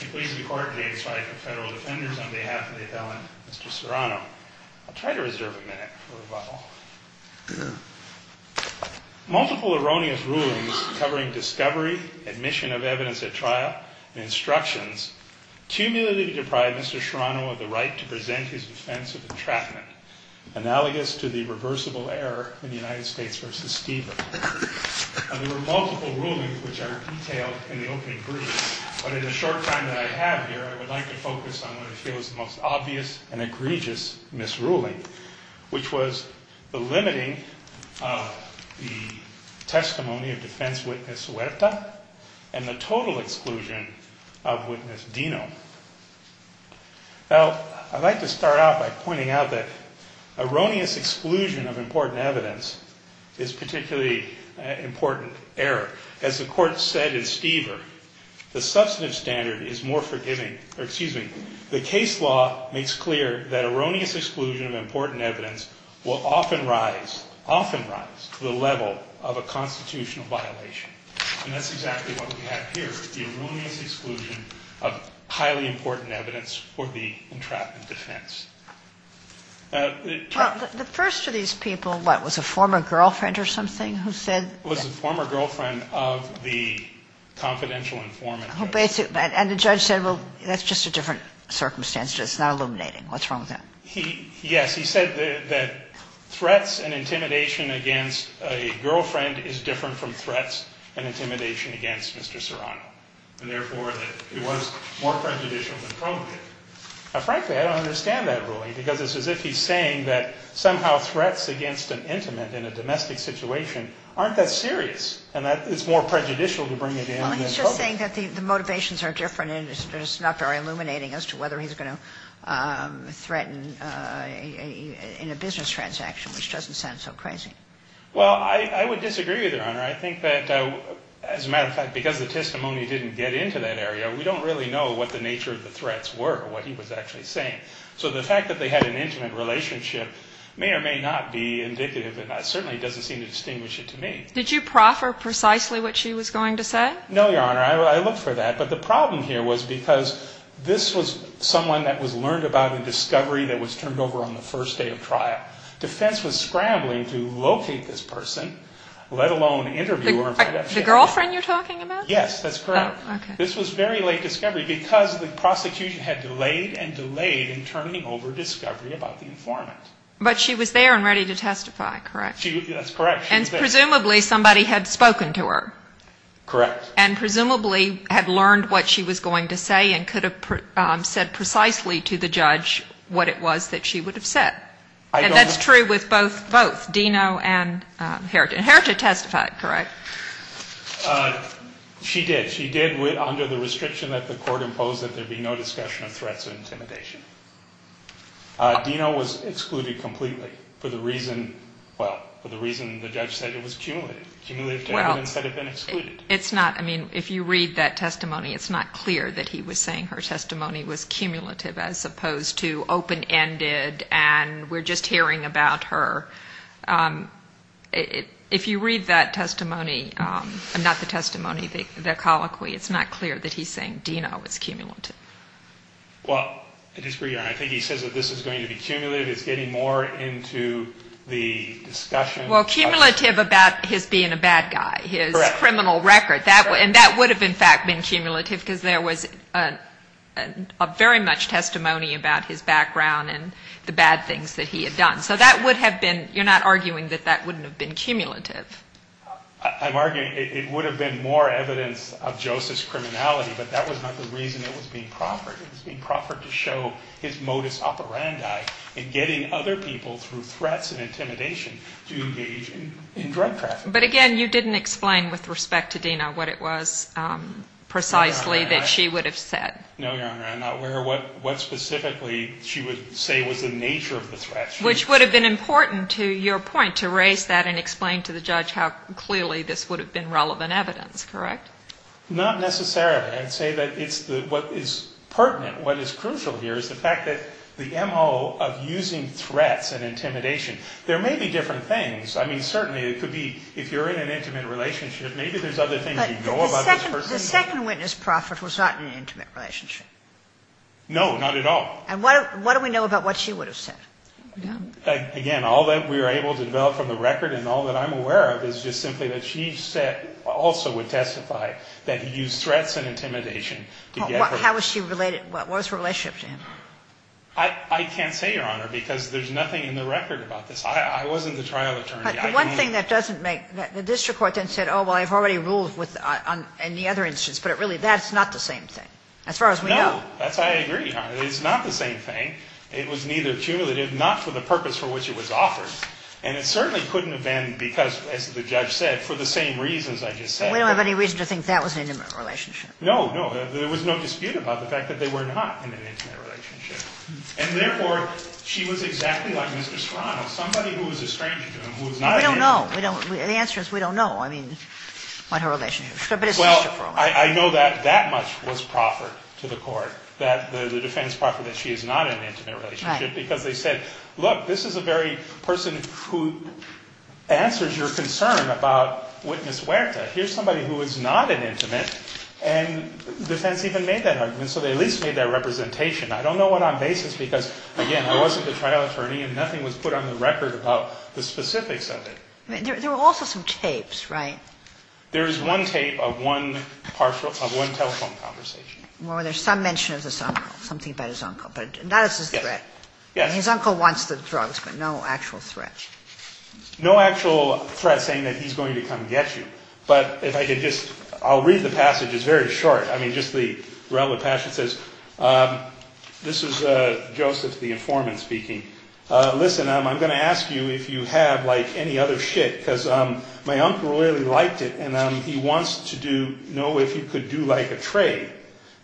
I'm pleased to be court today to cite the federal defenders on behalf of the felon, Mr. Serrano. I'll try to reserve a minute for rebuttal. Sure. Multiple erroneous rulings covering discovery, admission of evidence at trial, and instructions cumulatively deprive Mr. Serrano of the right to present his defense of entrapment, analogous to the reversible error in United States v. Steven. There were multiple rulings which are detailed in the open brief. But in the short time that I have here, I would like to focus on what I feel is the most obvious and egregious misruling, which was the limiting of the testimony of defense witness Huerta and the total exclusion of witness Dino. I'd like to start out by pointing out that erroneous exclusion of important evidence is a particularly important error. As the Court said in Stever, the substantive standard is more forgiving or, excuse me, the case law makes clear that erroneous exclusion of important evidence will often rise, often rise to the level of a constitutional violation. And that's exactly what we have here, the erroneous exclusion of highly important evidence for the entrapment defense. Sotomayor Well, the first of these people, what, was a former girlfriend or something who said that the judge said, well, that's just a different circumstance. It's not illuminating. What's wrong with that? Gershengorn Yes. He said that threats and intimidation against a girlfriend is different from threats and intimidation against Mr. Serrano and, therefore, that it was more prejudicial than appropriate. Now, frankly, I don't understand that ruling because it's as if he's saying that somehow threats against an intimate in a domestic situation aren't that serious and that it's more prejudicial to bring it in than appropriate. Kagan Well, he's just saying that the motivations are different and it's just not very illuminating as to whether he's going to threaten in a business transaction, which doesn't sound so crazy. Gershengorn Well, I would disagree with you, Your Honor. I think that, as a matter of fact, because the testimony didn't get into that area, we don't really know what the nature of the threats were, what he was actually saying. So the fact that they had an intimate relationship may or may not be indicative and certainly doesn't seem to distinguish it to me. Kagan Did you proffer precisely what she was going to say? Gershengorn No, Your Honor. I looked for that. But the problem here was because this was someone that was learned about in discovery that was turned over on the first day of trial. Defense was scrambling to locate this person, let alone interview her. Kagan The girlfriend you're talking about? Gershengorn Yes, that's correct. This was very late discovery because the prosecution had delayed and delayed in turning over discovery about the informant. Kagan But she was there and ready to testify, correct? Gershengorn That's correct. She was there. Kagan And presumably somebody had spoken to her. Gershengorn Correct. Kagan And presumably had learned what she was going to say and could have said precisely to the judge what it was that she would have said. And that's true with both Deno and Heritage. And Heritage testified, correct? Gershengorn She did. She did under the restriction that the court imposed that there be no discussion of threats of intimidation. Deno was excluded completely for the reason, well, for the reason the judge said it was cumulative. Cumulative testimony instead of being excluded. Kagan Well, it's not. I mean, if you read that testimony, it's not clear that he was saying her testimony was cumulative as opposed to open-ended and we're just hearing about her. If you read that testimony, not the testimony, the colloquy, it's not clear that he's saying Deno was cumulative. Gershengorn Well, I disagree. I think he says that this is going to be cumulative. It's getting more into the discussion. Kagan Well, cumulative about his being a bad guy, his criminal record. And that would have, in fact, been cumulative because there was very much testimony about his background and the bad things that he had done. So that would have been, you're not arguing that that wouldn't have been cumulative. Gershengorn I'm arguing it would have been more evidence of Joseph's criminality, but that was not the reason it was being proffered. It was being proffered to show his modus operandi in getting other people through threats and intimidation to engage in drug trafficking. Kagan But again, you didn't explain with respect to Deno what it was precisely that she would have said. Gershengorn No, Your Honor. I'm not aware of what specifically she would say was the nature of the threat. Kagan Which would have been important, to your point, to raise that and explain to the judge how clearly this would have been relevant evidence, correct? Gershengorn Not necessarily. I'd say that what is pertinent, what is crucial here, is the fact that the MO of using threats and intimidation, there may be different things. I mean, certainly it could be if you're in an intimate relationship, maybe there's other things you know about this person. Kagan But the second witness proffered was not in an intimate relationship. Gershengorn No, not at all. Kagan And what do we know about what she would have said? Gershengorn Again, all that we were able to develop from the record and all that I'm aware of is just simply that she also would testify that he used threats and intimidation to get her. Kagan How was she related? What was her relationship to him? Gershengorn I can't say, Your Honor, because there's nothing in the record about this. I wasn't the trial attorney. I can't. Kagan But the one thing that doesn't make the district court then said, oh, well, I've already ruled in the other instance, but really that's not the same thing as far as we know. Gershengorn No. That's why I agree, Your Honor. It's not the same thing. It was neither cumulative, not for the purpose for which it was offered. And it certainly couldn't have been because, as the judge said, for the same reasons I just said. Kagan We don't have any reason to think that was an intimate relationship. Gershengorn No, no. There was no dispute about the fact that they were not in an intimate relationship. And, therefore, she was exactly like Mr. Serrano, somebody who was a stranger to him, who was not an intimate relationship. Kagan We don't know. The answer is we don't know, I mean, what her relationship was. Gershengorn Well, I know that that much was proffered to the court. That the defense proffered that she is not in an intimate relationship because they said, look, this is a very person who answers your concern about Witness Huerta. Here's somebody who is not an intimate, and defense even made that argument. So they at least made that representation. I don't know what on basis because, again, I wasn't the trial attorney and nothing was put on the record about the specifics of it. Kagan There were also some tapes, right? Gershengorn There was one tape of one telephone conversation. Kagan Well, there's some mention of this uncle, something about his uncle. But not as a threat. His uncle wants the drugs, but no actual threat. Gershengorn No actual threat saying that he's going to come get you. But if I could just – I'll read the passage. It's very short. I mean, just the relevant passage says, this is Joseph, the informant, speaking. Listen, I'm going to ask you if you have, like, any other shit because my uncle really liked it and he wants to know if you could do, like, a trade.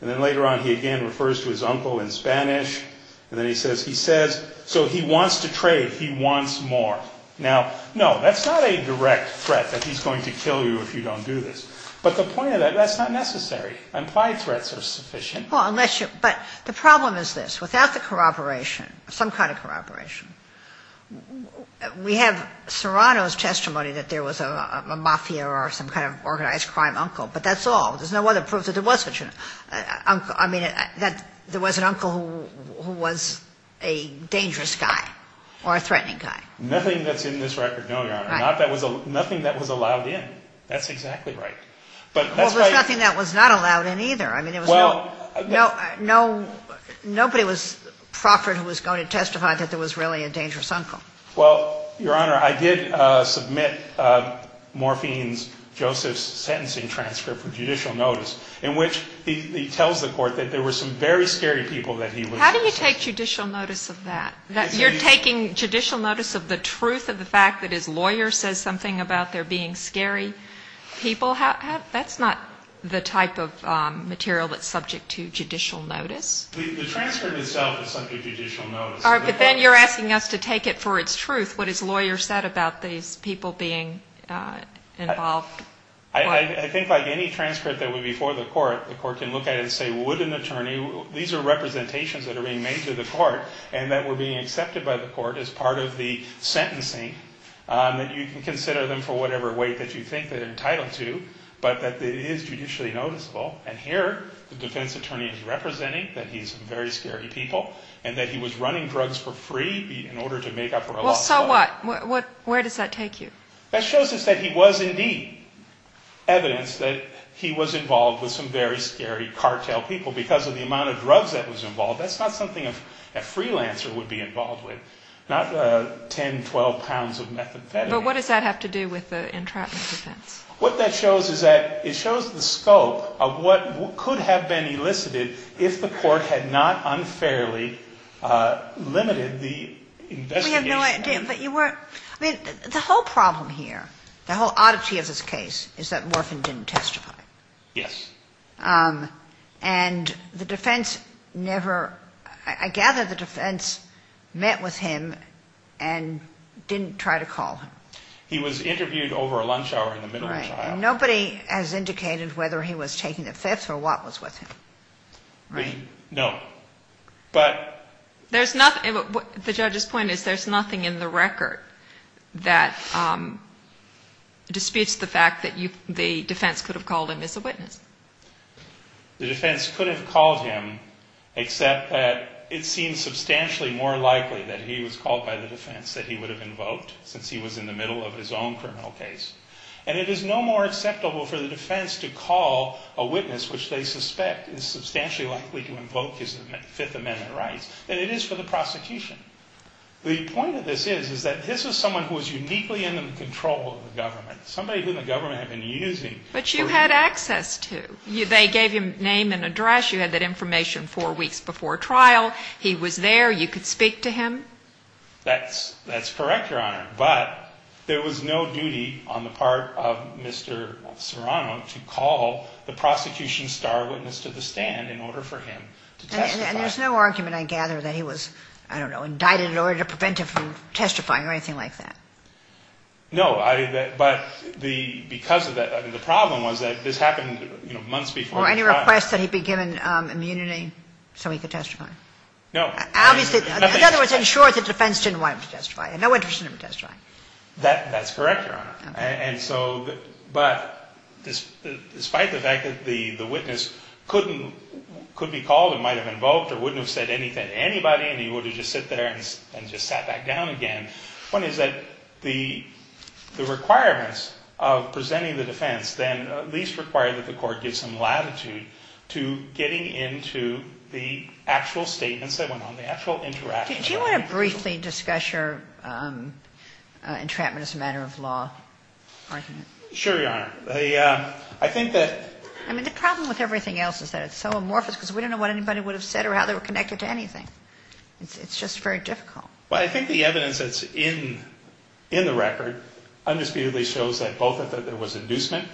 And then later on he again refers to his uncle in Spanish. And then he says, he says, so he wants to trade. He wants more. Now, no, that's not a direct threat that he's going to kill you if you don't do this. But the point of that, that's not necessary. Implied threats are sufficient. Kagan Well, unless you – but the problem is this. Without the corroboration, some kind of corroboration, we have Serrano's testimony that there was a mafia or some kind of organized crime uncle. But that's all. There's no other proof that there was such an uncle. I mean, that there was an uncle who was a dangerous guy or a threatening guy. Nothing that's in this record, no, Your Honor. Nothing that was allowed in. That's exactly right. But that's why – Well, there's nothing that was not allowed in either. I mean, there was no – Well – No, nobody was proffered who was going to testify that there was really a dangerous uncle. Well, Your Honor, I did submit Morphine's – Joseph's sentencing transcript for judicial notice, in which he tells the court that there were some very scary people that he was – How do you take judicial notice of that? You're taking judicial notice of the truth of the fact that his lawyer says something about there being scary people? That's not the type of material that's subject to judicial notice. The transcript itself is subject to judicial notice. All right, but then you're asking us to take it for its truth, what his lawyer said about these people being involved. I think like any transcript that would be for the court, the court can look at it and say, would an attorney – these are representations that are being made to the court and that were being accepted by the court as part of the sentencing, that you can consider them for whatever weight that you think they're entitled to, but that it is judicially noticeable. And here, the defense attorney is representing that he's very scary people and that he was running drugs for free in order to make up for a loss of – Well, so what? Where does that take you? That shows us that he was indeed evidence that he was involved with some very scary cartel people because of the amount of drugs that was involved. That's not something a freelancer would be involved with, not 10, 12 pounds of methamphetamine. But what does that have to do with the entrapment defense? What that shows is that it shows the scope of what could have been elicited if the court had not unfairly limited the investigation. We have no idea, but you weren't – I mean, the whole problem here, the whole oddity of this case is that Morfin didn't testify. Yes. And the defense never – I gather the defense met with him and didn't try to call him. He was interviewed over a lunch hour in the middle of trial. Right. And nobody has indicated whether he was taking a fifth or what was with him. Right. No. But – There's nothing – the judge's point is there's nothing in the record that disputes the fact that the defense could have called him as a witness. The defense could have called him except that it seems substantially more likely that he was called by the defense that he would have invoked since he was in the middle of his own criminal case. And it is no more acceptable for the defense to call a witness, which they suspect is substantially likely to invoke his Fifth Amendment rights, than it is for the prosecution. The point of this is, is that this was someone who was uniquely in control of the government, somebody who the government had been using for years. But you had access to. They gave you a name and address. You had that information four weeks before trial. He was there. You could speak to him. That's correct, Your Honor. But there was no duty on the part of Mr. Serrano to call the prosecution's star witness to the stand in order for him to testify. And there's no argument, I gather, that he was, I don't know, indicted in order to prevent him from testifying or anything like that. No. But because of that – the problem was that this happened months before the trial. Were there any requests that he be given immunity so he could testify? No. In other words, ensure the defense didn't want him to testify. No interest in him testifying. That's correct, Your Honor. And so, but despite the fact that the witness couldn't, could be called and might have invoked or wouldn't have said anything to anybody and he would have just sat there and just sat back down again, one is that the requirements of presenting the defense then at least require that the court give some latitude to getting into the actual statements that went on, the actual interaction. Do you want to briefly discuss your entrapment as a matter of law argument? Sure, Your Honor. I think that – I mean, the problem with everything else is that it's so amorphous because we don't know what anybody would have said or how they were connected to anything. It's just very difficult. Well, I think the evidence that's in the record undisputedly shows that both that there was inducement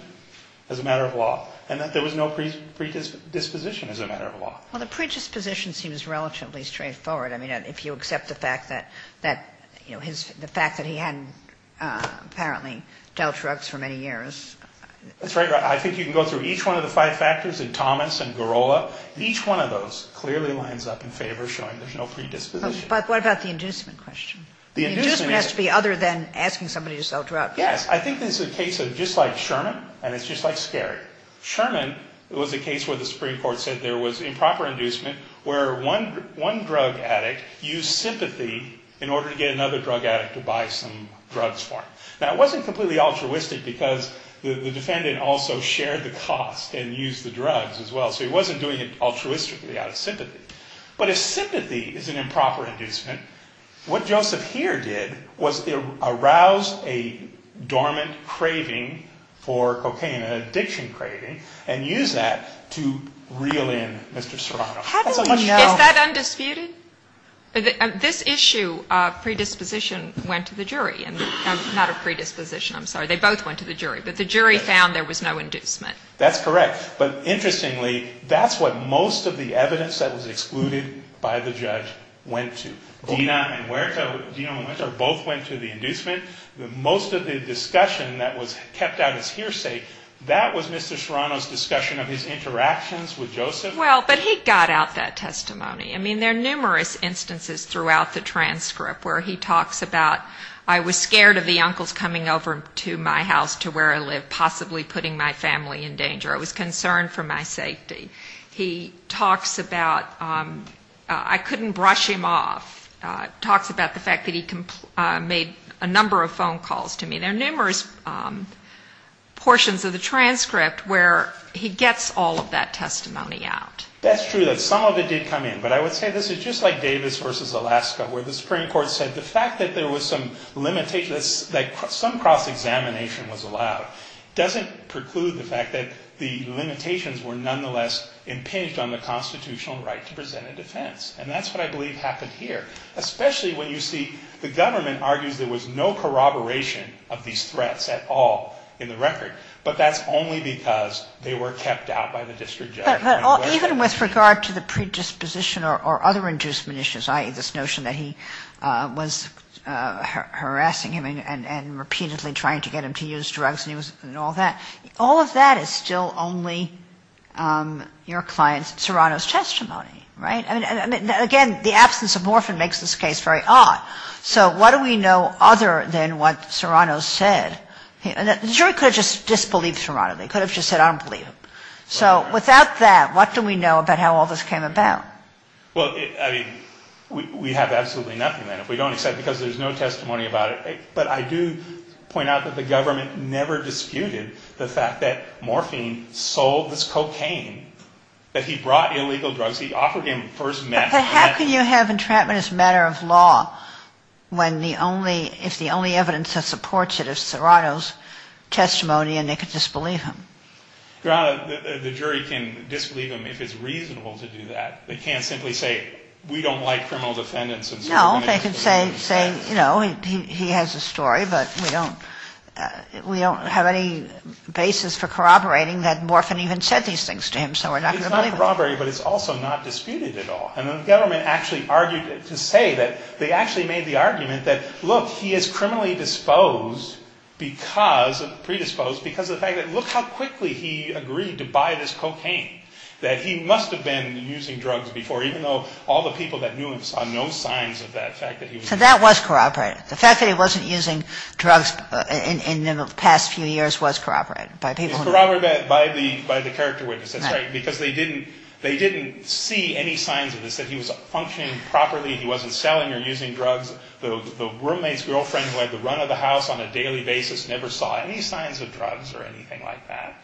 as a matter of law and that there was no predisposition as a matter of law. Well, the predisposition seems relatively straightforward. I mean, if you accept the fact that, you know, the fact that he hadn't apparently dealt drugs for many years. That's right, Your Honor. I think you can go through each one of the five factors in Thomas and Girola. Each one of those clearly lines up in favor showing there's no predisposition. But what about the inducement question? The inducement has to be other than asking somebody to sell drugs. Yes. I think there's a case just like Sherman, and it's just like Skerry. Sherman was a case where the Supreme Court said there was improper inducement where one drug addict used sympathy in order to get another drug addict to buy some drugs for him. Now, it wasn't completely altruistic because the defendant also shared the cost and used the drugs as well, so he wasn't doing it altruistically out of sympathy. But if sympathy is an improper inducement, what Joseph here did was arouse a dormant craving for cocaine, an addiction craving, and use that to reel in Mr. Serrano. How do you know? Is that undisputed? This issue of predisposition went to the jury. Not of predisposition, I'm sorry. They both went to the jury. But the jury found there was no inducement. That's correct. But interestingly, that's what most of the evidence that was excluded by the judge went to. Dina and Huerta both went to the inducement. Most of the discussion that was kept out as hearsay, that was Mr. Serrano's discussion of his interactions with Joseph. Well, but he got out that testimony. I mean, there are numerous instances throughout the transcript where he talks about, I was scared of the uncles coming over to my house to where I live, possibly putting my family in danger. I was concerned for my safety. He talks about, I couldn't brush him off, talks about the fact that he made a number of phone calls to me. There are numerous portions of the transcript where he gets all of that testimony out. That's true, that some of it did come in. But I would say this is just like Davis v. Alaska, where the Supreme Court said the fact that there was some limitation, that some cross-examination was allowed, doesn't preclude the fact that the limitations were nonetheless impinged on the constitutional right to present a defense. And that's what I believe happened here. Especially when you see the government argues there was no corroboration of these threats at all in the record. But that's only because they were kept out by the district judge. But even with regard to the predisposition or other inducement issues, i.e., this notion that he was harassing him and repeatedly trying to get him to use drugs and all that, all of that is still only your client Serrano's testimony, right? Again, the absence of Morphin makes this case very odd. So what do we know other than what Serrano said? The jury could have just disbelieved Serrano. They could have just said, I don't believe him. So without that, what do we know about how all this came about? Well, I mean, we have absolutely nothing, then, if we don't accept it, because there's no testimony about it. But I do point out that the government never disputed the fact that Morphin sold this cocaine, that he brought illegal drugs. He offered him first meth. But how can you have entrapment as a matter of law when the only ‑‑ if the only evidence that supports it is Serrano's testimony and they could disbelieve him? The jury can disbelieve him if it's reasonable to do that. They can't simply say, we don't like criminal defendants. No, they can say, you know, he has a story, but we don't have any basis for corroborating that Morphin even said these things to him. So we're not going to believe him. It's not corroborating, but it's also not disputed at all. And the government actually argued to say that they actually made the argument that, look, he is criminally predisposed because of the fact that, look how quickly he agreed to buy this cocaine, that he must have been using drugs before, even though all the people that knew him saw no signs of that fact. So that was corroborated. The fact that he wasn't using drugs in the past few years was corroborated by people who knew him. It was corroborated by the character witness. That's right, because they didn't see any signs of this, that he was functioning properly, he wasn't selling or using drugs. The roommate's girlfriend who had the run of the house on a daily basis never saw any signs of drugs or anything like that.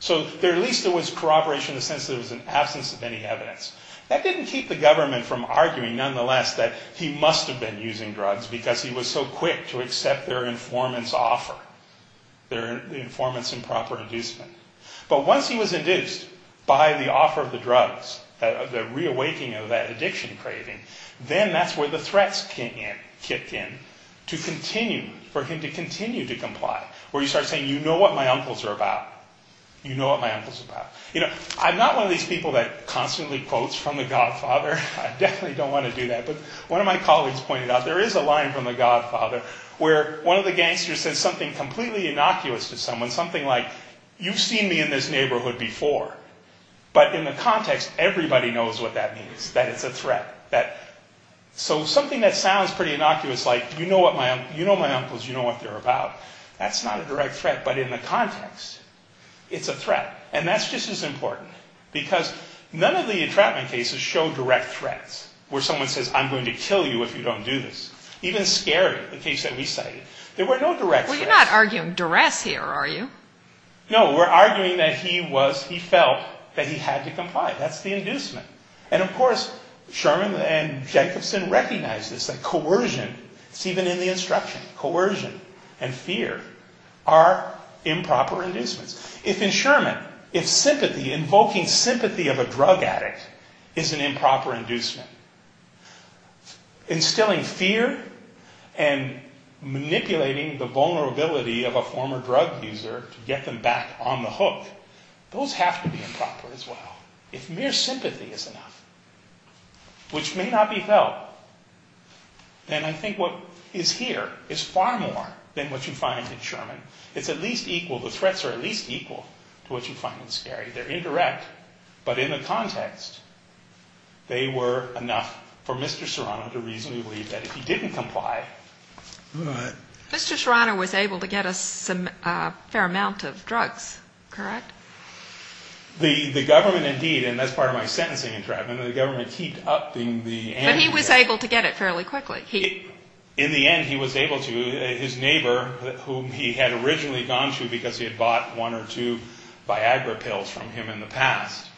So at least there was corroboration in the sense that there was an absence of any evidence. That didn't keep the government from arguing, nonetheless, that he must have been using drugs because he was so quick to accept their informant's offer, their informant's improper inducement. But once he was induced by the offer of the drugs, the reawakening of that addiction craving, then that's where the threats kick in to continue, for him to continue to comply, where you start saying, you know what my uncles are about. You know what my uncle's about. You know, I'm not one of these people that constantly quotes from the Godfather. I definitely don't want to do that, but one of my colleagues pointed out there is a line from the Godfather where one of the gangsters says something completely innocuous to someone, something like, you've seen me in this neighborhood before. But in the context, everybody knows what that means, that it's a threat. So something that sounds pretty innocuous, like, you know my uncles, you know what they're about, that's not a direct threat, but in the context, it's a threat. And that's just as important, because none of the entrapment cases show direct threats, where someone says, I'm going to kill you if you don't do this. Even scary, the case that we cited, there were no direct threats. Well, you're not arguing duress here, are you? No, we're arguing that he felt that he had to comply. That's the inducement. And of course, Sherman and Jacobson recognized this, that coercion, it's even in the instruction, coercion and fear are improper inducements. If in Sherman, if sympathy, invoking sympathy of a drug addict is an improper inducement, instilling fear and manipulating the vulnerability of a former drug user to get them back on the hook, those have to be improper as well. If mere sympathy is enough, which may not be felt, then I think what is here is far more than what you find in Sherman. It's at least equal, the threats are at least equal to what you find in scary. They're indirect. But in the context, they were enough for Mr. Serrano to reasonably believe that if he didn't comply. Mr. Serrano was able to get us a fair amount of drugs, correct? The government indeed, and that's part of my sentencing entrapment, the government keeped upping the antitrust. But he was able to get it fairly quickly. In the end, he was able to. His neighbor, whom he had originally gone to because he had bought one or two Viagra pills from him in the past,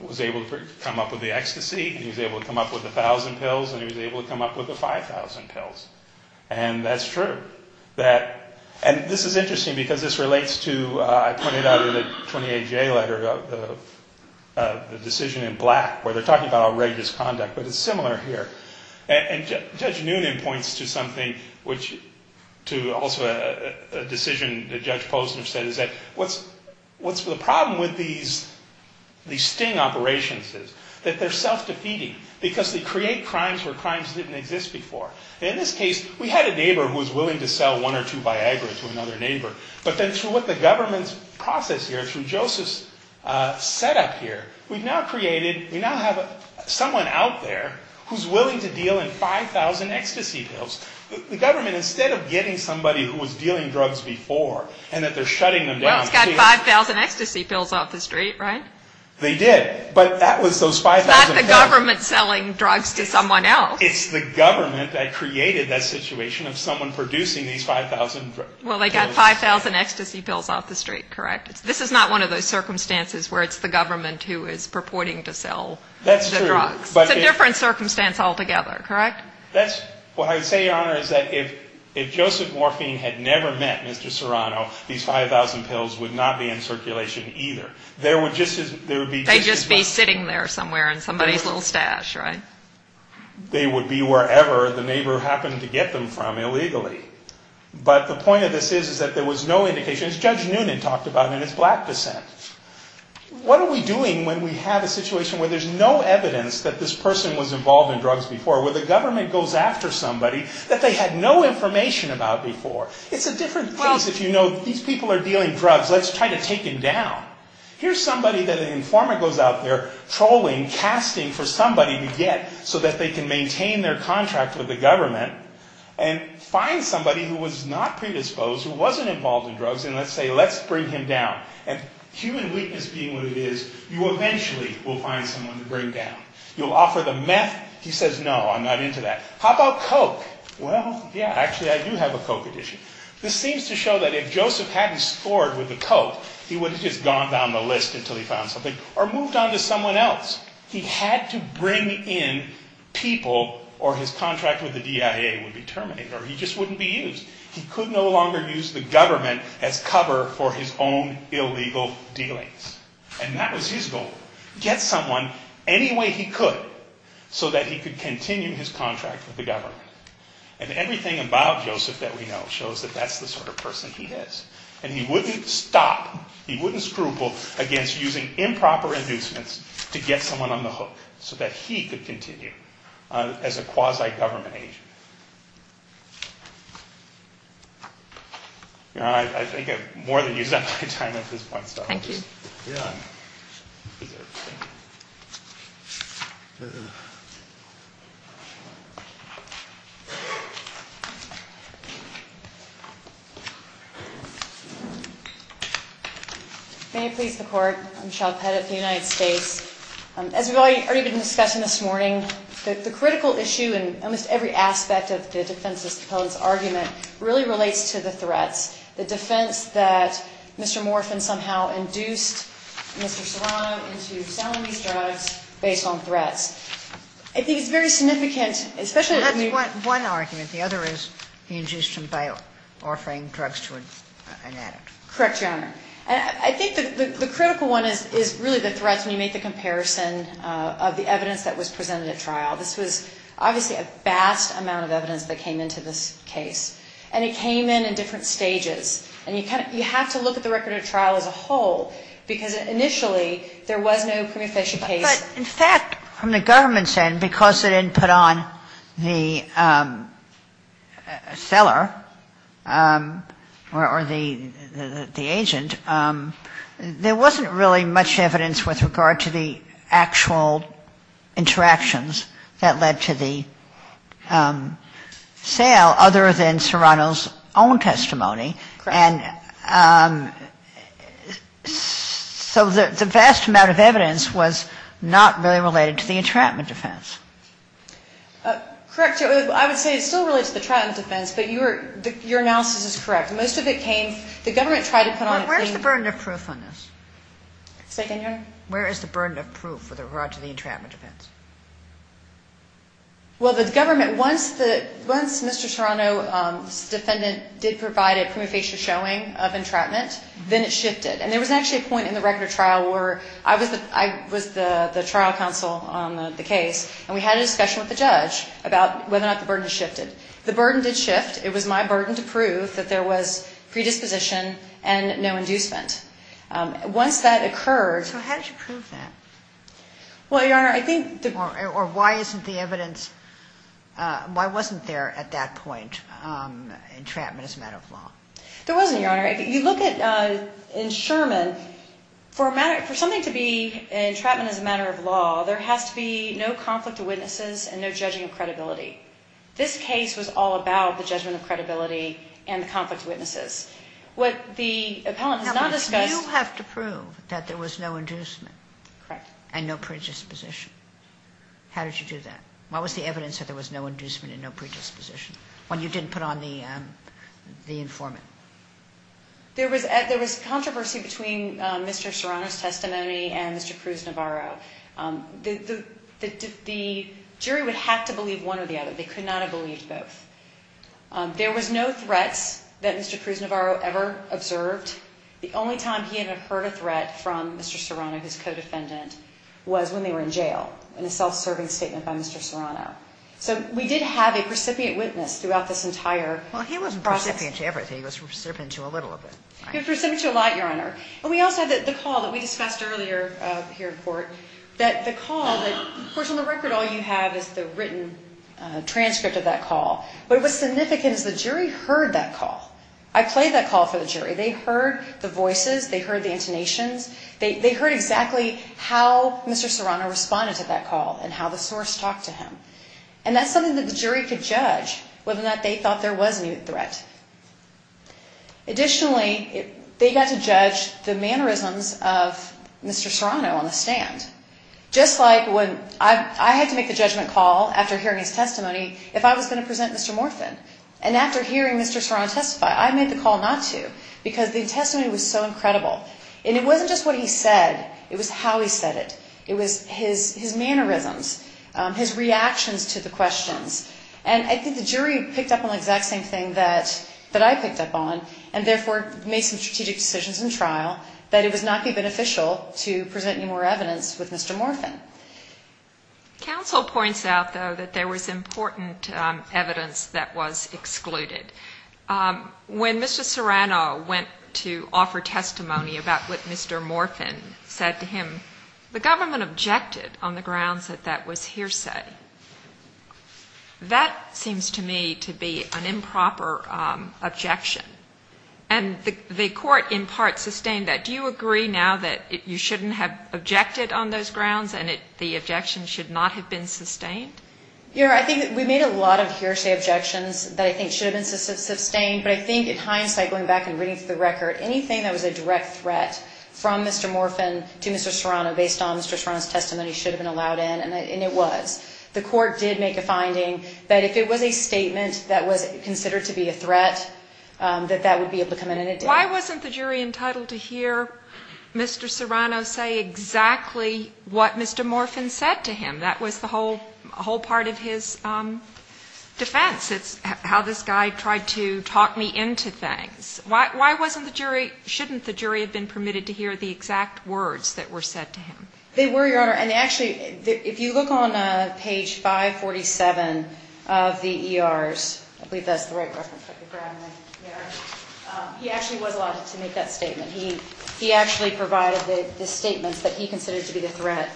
was able to come up with the ecstasy. He was able to come up with the 1,000 pills, and he was able to come up with the 5,000 pills. And that's true. And this is interesting because this relates to, I pointed out in the 28-J letter, the decision in Black, where they're talking about outrageous conduct, but it's similar here. And Judge Noonan points to something which, to also a decision that Judge Posner said, is that what's the problem with these sting operations is that they're self-defeating because they create crimes where crimes didn't exist before. In this case, we had a neighbor who was willing to sell one or two Viagra to another neighbor. But then through what the government's process here, through Joseph's setup here, we've now created, we now have someone out there who's willing to deal in 5,000 ecstasy pills. The government, instead of getting somebody who was dealing drugs before and that they're shutting them down. Well, it's got 5,000 ecstasy pills off the street, right? They did. But that was those 5,000 pills. It's not the government selling drugs to someone else. It's the government that created that situation of someone producing these 5,000 pills. Well, they got 5,000 ecstasy pills off the street, correct? This is not one of those circumstances where it's the government who is purporting to sell the drugs. That's true. It's a different circumstance altogether, correct? What I would say, Your Honor, is that if Joseph Morphine had never met Mr. Serrano, these 5,000 pills would not be in circulation either. They would just be sitting there somewhere in somebody's little stash, right? They would be wherever the neighbor happened to get them from illegally. But the point of this is that there was no indication. As Judge Noonan talked about in his black dissent, what are we doing when we have a situation where there's no evidence that this person was involved in drugs before, where the government goes after somebody that they had no information about before? It's a different case if you know these people are dealing drugs. Let's try to take them down. Here's somebody that an informant goes out there trolling, casting for somebody to get so that they can maintain their contract with the government and find somebody who was not predisposed, who wasn't involved in drugs, and let's say, let's bring him down. And human weakness being what it is, you eventually will find someone to bring down. You'll offer them meth. He says, no, I'm not into that. How about Coke? Well, yeah, actually I do have a Coke edition. This seems to show that if Joseph hadn't scored with the Coke, he would have just gone down the list until he found something or moved on to someone else. He had to bring in people or his contract with the DIA would be terminated or he just wouldn't be used. He could no longer use the government as cover for his own illegal dealings. And that was his goal, get someone any way he could so that he could continue his contract with the government. And everything about Joseph that we know shows that that's the sort of person he is. And he wouldn't stop, he wouldn't scruple against using improper inducements to get someone on the hook so that he could continue as a quasi-government agent. I think I've more than used up my time at this point. Thank you. May it please the Court. I'm Michelle Pettit of the United States. As we've already been discussing this morning, the critical issue in almost every aspect of the defense's argument really relates to the threats. The defense that Mr. Morphin somehow induced Mr. Serrano into selling these drugs based on threats. I think it's very significant, especially if you... That's one argument. The other is he induced him by offering drugs to an addict. Correct, Your Honor. And I think the critical one is really the threats when you make the comparison of the evidence that was presented at trial. This was obviously a vast amount of evidence that came into this case. And it came in in different stages. And you have to look at the record of trial as a whole, because initially, there was no prima facie case. But in fact, from the government's end, because they didn't put on the seller or the agent, there wasn't really much evidence with regard to the actual interactions that led to the sale other than Serrano's own testimony. And so the vast amount of evidence was not really related to the entrapment defense. Correct, Your Honor. I would say it still relates to the entrapment defense, but your analysis is correct. Most of it came... The government tried to put on... Where's the burden of proof on this? Say again, Your Honor? Where is the burden of proof with regard to the entrapment defense? Well, the government... Once Mr. Serrano's defendant did provide a prima facie showing of entrapment, then it shifted. And there was actually a point in the record of trial where I was the trial counsel on the case, and we had a discussion with the judge about whether or not the burden shifted. The burden did shift. It was my burden to prove that there was predisposition and no inducement. Once that occurred... So how did you prove that? Well, Your Honor, I think... Or why isn't the evidence... Why wasn't there at that point entrapment as a matter of law? There wasn't, Your Honor. If you look in Sherman, for something to be entrapment as a matter of law, there has to be no conflict of witnesses and no judging of credibility. This case was all about the judgment of credibility and the conflict of witnesses. What the appellant has not discussed... You have to prove that there was no inducement. Correct. And no predisposition. How did you do that? What was the evidence that there was no inducement and no predisposition when you didn't put on the informant? There was controversy between Mr. Serrano's testimony and Mr. Cruz Navarro. The jury would have to believe one or the other. They could not have believed both. There was no threats that Mr. Cruz Navarro ever observed. The only time he had heard a threat from Mr. Serrano, his co-defendant, was when they were in jail in a self-serving statement by Mr. Serrano. So we did have a precipient witness throughout this entire process. Well, he wasn't precipient to everything. He was precipient to a little of it. He was precipient to a lot, Your Honor. And we also have the call that we discussed earlier here in court, that the call that, of course, on the record, all you have is the written transcript of that call. But what's significant is the jury heard that call. I played that call for the jury. They heard the voices. They heard the intonations. They heard exactly how Mr. Serrano responded to that call and how the source talked to him. And that's something that the jury could judge, whether or not they thought there was a threat. Additionally, they got to judge the mannerisms of Mr. Serrano on the stand. Just like when I had to make the judgment call after hearing his testimony if I was going to present Mr. Morphin. And after hearing Mr. Serrano testify, I made the call not to, because the testimony was so incredible. And it wasn't just what he said. It was how he said it. It was his mannerisms, his reactions to the questions. And I think the jury picked up on the exact same thing that I picked up on and therefore made some strategic decisions in trial, that it would not be beneficial to present any more evidence with Mr. Morphin. Counsel points out, though, that there was important evidence that was excluded. When Mr. Serrano went to offer testimony about what Mr. Morphin said to him, the government objected on the grounds that that was hearsay. That seems to me to be an improper objection. And the court in part sustained that. Do you agree now that you shouldn't have objected on those grounds and the objection should not have been sustained? Yeah. I think we made a lot of hearsay objections that I think should have been sustained. But I think at hindsight, going back and reading through the record, anything that was a direct threat from Mr. Morphin to Mr. Serrano based on Mr. Serrano's testimony should have been allowed in, and it was. The court did make a finding that if it was a statement that was considered to be a threat, that that would be able to come in, and it did. Why wasn't the jury entitled to hear Mr. Serrano say exactly what Mr. Morphin said to him? That was the whole part of his defense. It's how this guy tried to talk me into things. Why shouldn't the jury have been permitted to hear the exact words that were said to him? They were, Your Honor. If you look on page 547 of the ERs, I believe that's the right reference. He actually was allowed to make that statement. He actually provided the statements that he considered to be the threat.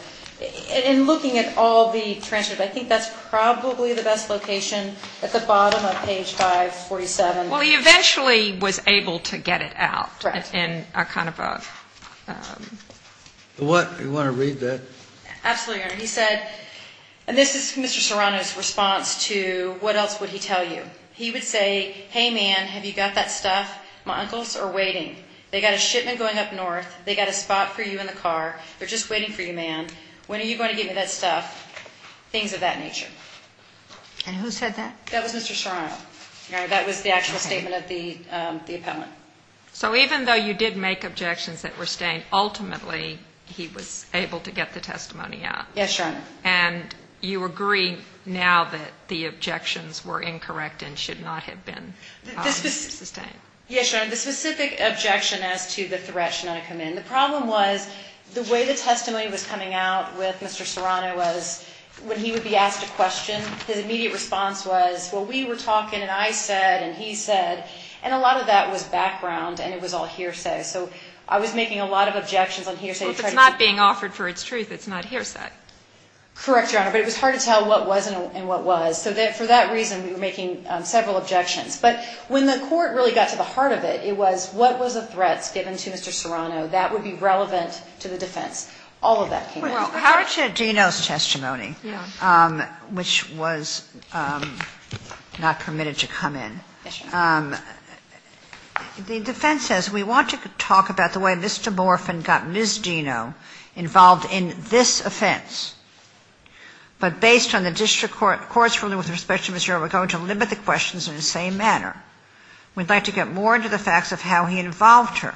In looking at all the transcripts, I think that's probably the best location at the bottom of page 547. Well, he eventually was able to get it out. Correct. Do you want to read that? Absolutely, Your Honor. He said, and this is Mr. Serrano's response to what else would he tell you. He would say, hey, man, have you got that stuff? My uncles are waiting. They've got a shipment going up north. They've got a spot for you in the car. They're just waiting for you, man. When are you going to get me that stuff? Things of that nature. And who said that? That was Mr. Serrano. That was the actual statement of the appellant. So even though you did make objections that were stained, ultimately he was able to get the testimony out. Yes, Your Honor. And you agree now that the objections were incorrect and should not have been sustained. Yes, Your Honor. The specific objection as to the threat should not have come in. The problem was the way the testimony was coming out with Mr. Serrano was when he would be asked a question, his immediate response was, well, we were talking and I said and he said. And a lot of that was background and it was all hearsay. So I was making a lot of objections on hearsay. Well, if it's not being offered for its truth, it's not hearsay. Correct, Your Honor. But it was hard to tell what was and what was. So for that reason, we were making several objections. But when the court really got to the heart of it, it was what was the threats given to Mr. Serrano that would be relevant to the defense. All of that came out. Well, Howard said Dino's testimony, which was not permitted to come in. The defense says, We want to talk about the way Mr. Morphin got Ms. Dino involved in this offense. But based on the district court's ruling with respect to Ms. Earl, we're going to limit the questions in the same manner. We'd like to get more into the facts of how he involved her.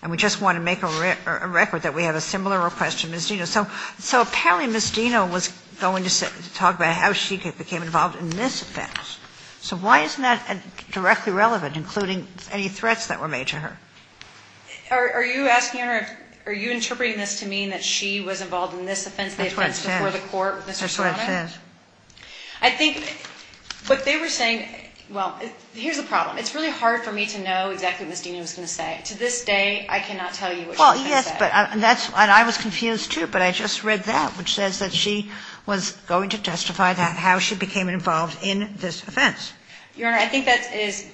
And we just want to make a record that we have a similar request to Ms. Dino. So apparently Ms. Dino was going to talk about how she became involved in this offense. So why isn't that directly relevant, including any threats that were made to her? Are you asking her, are you interpreting this to mean that she was involved in this offense, the offense before the court, Mr. Serrano? That's what it says. I think what they were saying, well, here's the problem. It's really hard for me to know exactly what Ms. Dino was going to say. To this day, I cannot tell you what she was going to say. Well, yes, and I was confused, too, but I just read that, which says that she was going to testify about how she became involved in this offense. Your Honor, I think that is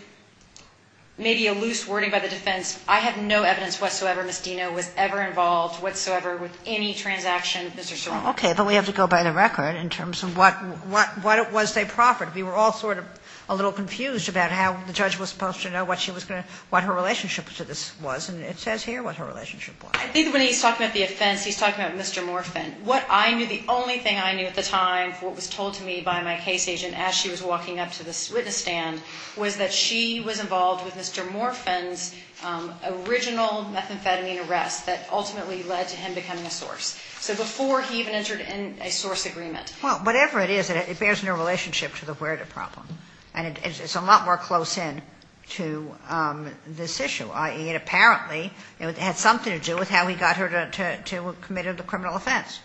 maybe a loose wording by the defense. I have no evidence whatsoever Ms. Dino was ever involved whatsoever with any transaction with Mr. Serrano. Okay, but we have to go by the record in terms of what it was they proffered. We were all sort of a little confused about how the judge was supposed to know what she was going to, what her relationship to this was. And it says here what her relationship was. I think when he's talking about the offense, he's talking about Mr. Morphin. What I knew, the only thing I knew at the time, what was told to me by my case agent as she was walking up to the witness stand, was that she was involved with Mr. Morphin's original methamphetamine arrest that ultimately led to him becoming a source. So before he even entered in a source agreement. Well, whatever it is, it bears no relationship to the wherewithal problem. And it's a lot more close in to this issue. I mean, apparently it had something to do with how he got her to commit the criminal offense.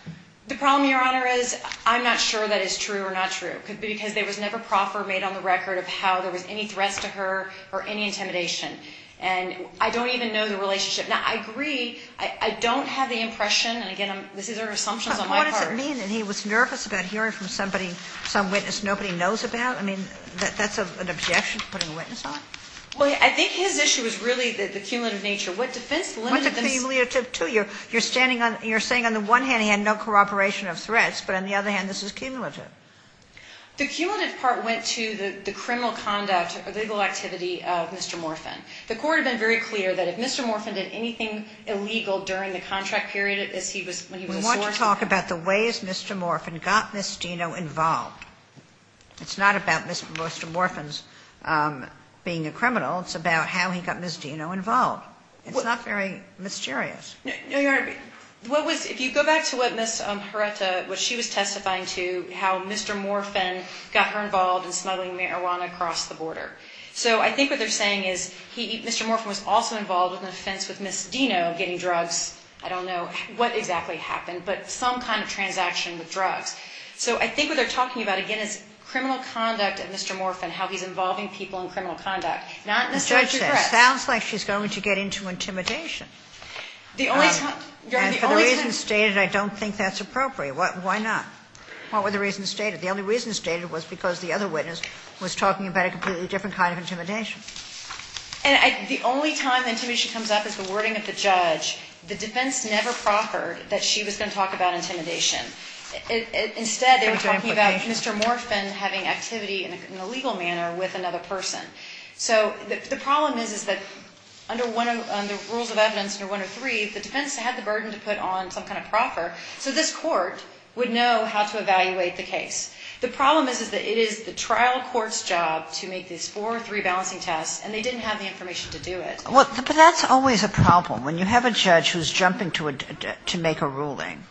The problem, Your Honor, is I'm not sure that it's true or not true. Because there was never proffer made on the record of how there was any threats to her or any intimidation. And I don't even know the relationship. Now, I agree, I don't have the impression, and again, these are assumptions on my part. I mean, and he was nervous about hearing from somebody, some witness nobody knows about. I mean, that's an objection to putting a witness on? Well, I think his issue is really the cumulative nature. What defense limited this? What's cumulative, too? You're standing on, you're saying on the one hand he had no corroboration of threats, but on the other hand this is cumulative. The cumulative part went to the criminal conduct or legal activity of Mr. Morphin. The court had been very clear that if Mr. Morphin did anything illegal during the contract period as he was, when he was a source. But we want to talk about the ways Mr. Morphin got Ms. Dino involved. It's not about Mr. Morphin's being a criminal. It's about how he got Ms. Dino involved. It's not very mysterious. No, Your Honor, what was, if you go back to what Ms. Hereta, what she was testifying to, how Mr. Morphin got her involved in smuggling marijuana across the border. So I think what they're saying is he, Mr. Morphin was also involved in an offense with Ms. Dino getting drugs. I don't know what exactly happened, but some kind of transaction with drugs. So I think what they're talking about, again, is criminal conduct and Mr. Morphin, how he's involving people in criminal conduct. Not in the same address. The judge says it sounds like she's going to get into intimidation. The only time, Your Honor, the only time. And for the reasons stated, I don't think that's appropriate. Why not? What were the reasons stated? The only reason stated was because the other witness was talking about a completely different kind of intimidation. And the only time intimidation comes up is the wording of the judge. The defense never proffered that she was going to talk about intimidation. Instead, they were talking about Mr. Morphin having activity in a legal manner with another person. So the problem is, is that under one of the rules of evidence, under 103, the defense had the burden to put on some kind of proffer so this court would know how to evaluate the case. The problem is, is that it is the trial court's job to make these four or three balancing tests, and they didn't have the information to do it. But that's always a problem. When you have a judge who's jumping to make a ruling,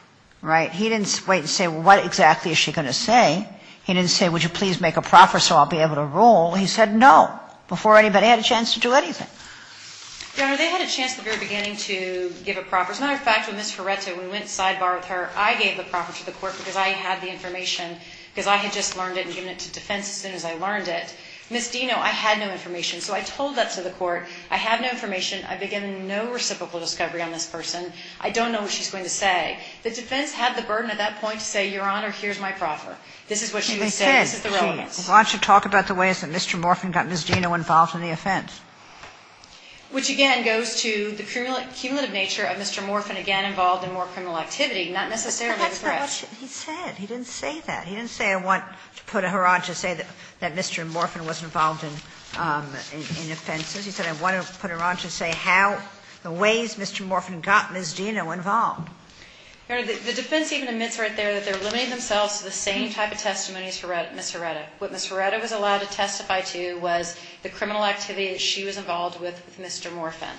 right, he didn't wait and say, well, what exactly is she going to say? He didn't say, would you please make a proffer so I'll be able to rule? He said no before anybody had a chance to do anything. Your Honor, they had a chance in the very beginning to give a proffer. As a matter of fact, when Ms. Ferretta, when we went sidebar with her, I gave a proffer to the court because I had the information, because I had just learned it and given it to defense as soon as I learned it. Ms. Dino, I had no information. So I told that to the court. I have no information. I begin no reciprocal discovery on this person. I don't know what she's going to say. The defense had the burden at that point to say, Your Honor, here's my proffer. This is what she would say. This is the relevance. Kagan. Why don't you talk about the ways that Mr. Morphin got Ms. Dino involved in the offense? Which again goes to the cumulative nature of Mr. Morphin again involved in more criminal activity, not necessarily the threat. But that's not what he said. He didn't say that. He didn't say I want to put her on to say that Mr. Morphin was involved in offenses. He said I want to put her on to say how, the ways Mr. Morphin got Ms. Dino involved. Your Honor, the defense even admits right there that they're limiting themselves to the same type of testimony as Ms. Ferretta. What Ms. Ferretta was allowed to testify to was the criminal activity that she was involved with Mr. Morphin.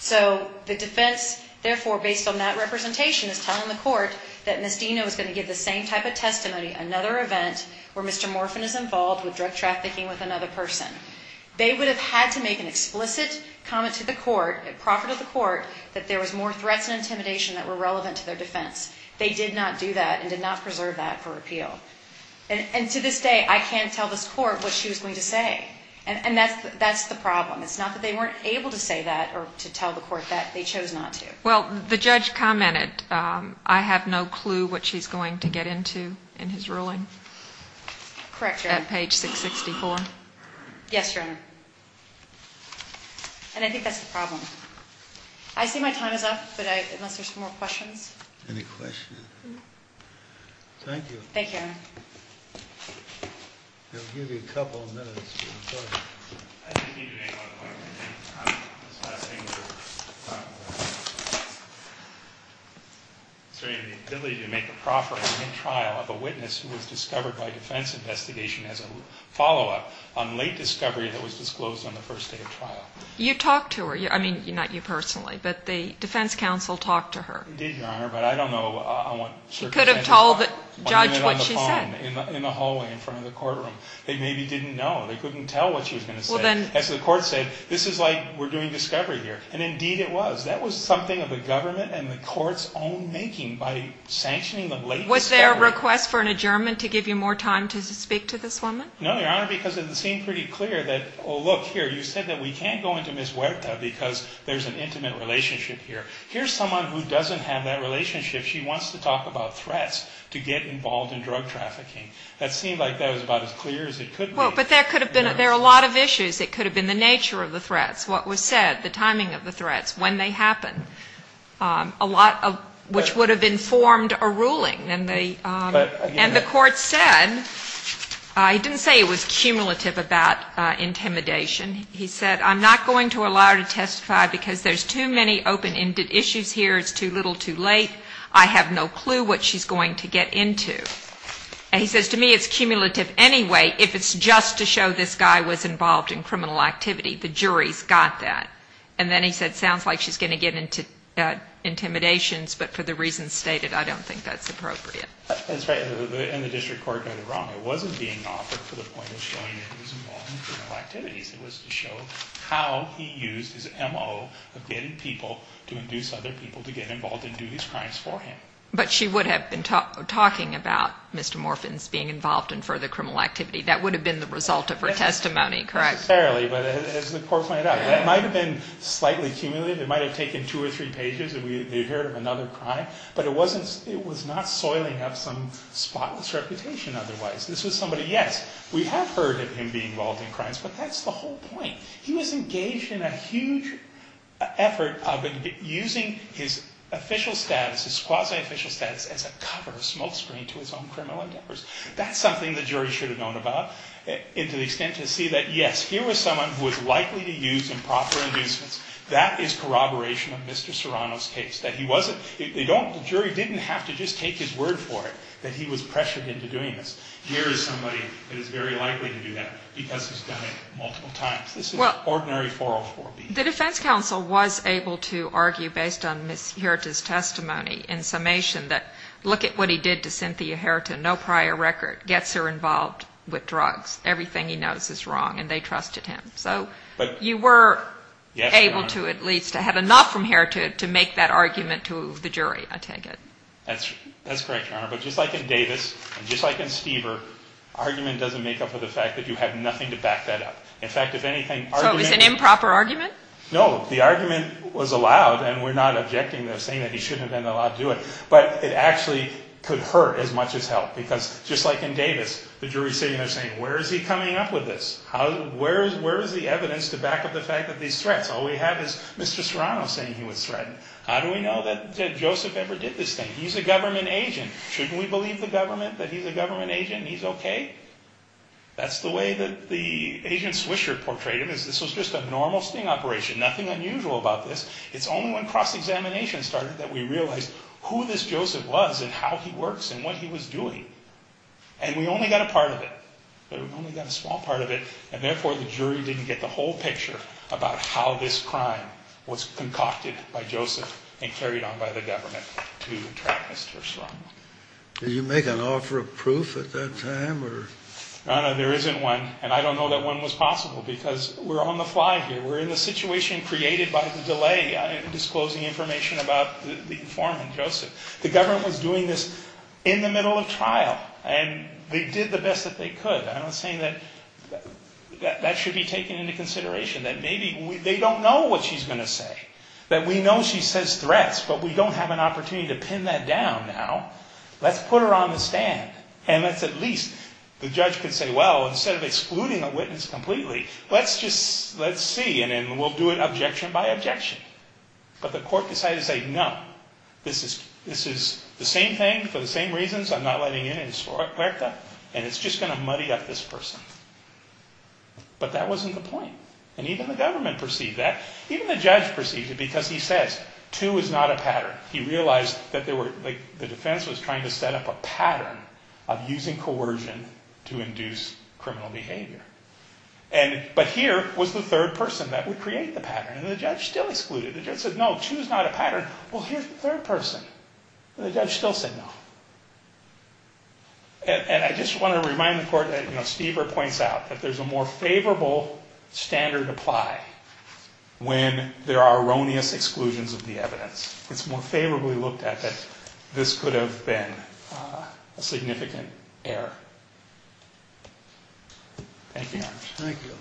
So the defense therefore based on that representation is telling the court that Ms. Dino was going to give the same type of testimony another event where Mr. Morphin is involved with drug trafficking with another person. They would have had to make an explicit comment to the court, a proffer to the court, that there was more threats and intimidation that were relevant to their defense. They did not do that and did not preserve that for appeal. And to this day I can't tell this court what she was going to say. And that's the problem. It's not that they weren't able to say that or to tell the court that. They chose not to. Well, the judge commented I have no clue what she's going to get into in his ruling. Correct, Your Honor. At page 664. Yes, Your Honor. And I think that's the problem. I see my time is up, but unless there's more questions. Any questions? Thank you. Thank you, Your Honor. We'll give you a couple of minutes. Go ahead. I just need to make one point. I'm just not able to talk about it. Is there any ability to make a proffer in trial of a witness who was discovered by defense investigation as a follow-up on late discovery that was disclosed on the first day of trial? You talked to her. I mean, not you personally, but the defense counsel talked to her. They did, Your Honor, but I don't know on what circumstances. They didn't tell the judge what she said. In the hallway in front of the courtroom. They maybe didn't know. They couldn't tell what she was going to say. As the court said, this is like we're doing discovery here, and indeed it was. That was something of the government and the court's own making by sanctioning the late discovery. Was there a request for an adjournment to give you more time to speak to this woman? No, Your Honor, because it seemed pretty clear that, oh, look, here, you said that we can't go into Ms. Huerta because there's an intimate relationship here. Here's someone who doesn't have that relationship. She wants to talk about threats to get involved in drug trafficking. That seemed like that was about as clear as it could be. Well, but there could have been a lot of issues. It could have been the nature of the threats, what was said, the timing of the threats, when they happened, a lot of which would have informed a ruling. And the court said he didn't say it was cumulative about intimidation. He said I'm not going to allow her to testify because there's too many open-ended issues here. It's too little, too late. I have no clue what she's going to get into. And he says to me it's cumulative anyway if it's just to show this guy was involved in criminal activity. The jury's got that. And then he said it sounds like she's going to get into intimidations, but for the reasons stated, I don't think that's appropriate. That's right. And the district court got it wrong. It wasn't being offered for the point of showing that he was involved in criminal activities. It was to show how he used his MO of getting people to induce other people to get involved and do these crimes for him. But she would have been talking about Mr. Morphin's being involved in further criminal activity. That would have been the result of her testimony, correct? Fairly, but as the court pointed out, it might have been slightly cumulative. It might have taken two or three pages and we would have heard of another crime. But it was not soiling up some spotless reputation otherwise. This was somebody, yes, we have heard of him being involved in crimes, but that's the whole point. He was engaged in a huge effort of using his official status, his quasi-official status, as a cover, a smokescreen to his own criminal endeavors. That's something the jury should have known about to the extent to see that, yes, here was someone who was likely to use improper inducements. That is corroboration of Mr. Serrano's case. The jury didn't have to just take his word for it that he was pressured into doing this. Here is somebody that is very likely to do that because he's done it multiple times. This is ordinary 404B. The defense counsel was able to argue based on Ms. Herita's testimony in summation that look at what he did to Cynthia Herita, no prior record, gets her involved with drugs. Everything he knows is wrong, and they trusted him. So you were able to at least have enough from Herita to make that argument to the jury, I take it. That's correct, Your Honor. But just like in Davis and just like in Stever, argument doesn't make up for the fact that you have nothing to back that up. In fact, if anything, argument- So it was an improper argument? No. The argument was allowed, and we're not objecting to saying that he shouldn't have been allowed to do it. But it actually could hurt as much as help because just like in Davis, the jury is sitting there saying where is he coming up with this? Where is the evidence to back up the fact that these threats? All we have is Mr. Serrano saying he was threatened. How do we know that Joseph ever did this thing? He's a government agent. Shouldn't we believe the government that he's a government agent and he's okay? That's the way that the agent Swisher portrayed it. This was just a normal sting operation. Nothing unusual about this. It's only when cross-examination started that we realized who this Joseph was and how he works and what he was doing. And we only got a part of it. We only got a small part of it, and therefore the jury didn't get the whole picture about how this crime was concocted by Joseph and carried on by the government to trap Mr. Serrano. Did you make an offer of proof at that time? No, no, there isn't one, and I don't know that one was possible because we're on the fly here. We're in a situation created by the delay in disclosing information about the informant, Joseph. The government was doing this in the middle of trial, and they did the best that they could. I'm not saying that that should be taken into consideration, that maybe they don't know what she's going to say, that we know she says threats, but we don't have an opportunity to pin that down now. Let's put her on the stand, and let's at least, the judge could say, well, instead of excluding a witness completely, let's just, let's see, and then we'll do it objection by objection. But the court decided to say, no, this is the same thing for the same reasons. I'm not letting in any sort of threat, and it's just going to muddy up this person. But that wasn't the point, and even the government perceived that. Even the judge perceived it because he says, two is not a pattern. He realized that there were, like, the defense was trying to set up a pattern of using coercion to induce criminal behavior. And, but here was the third person that would create the pattern, and the judge still excluded. Well, here's the third person, and the judge still said no. And I just want to remind the court that, you know, Stever points out that there's a more favorable standard to apply when there are erroneous exclusions of the evidence. It's more favorably looked at that this could have been a significant error. Thank you. Thank you.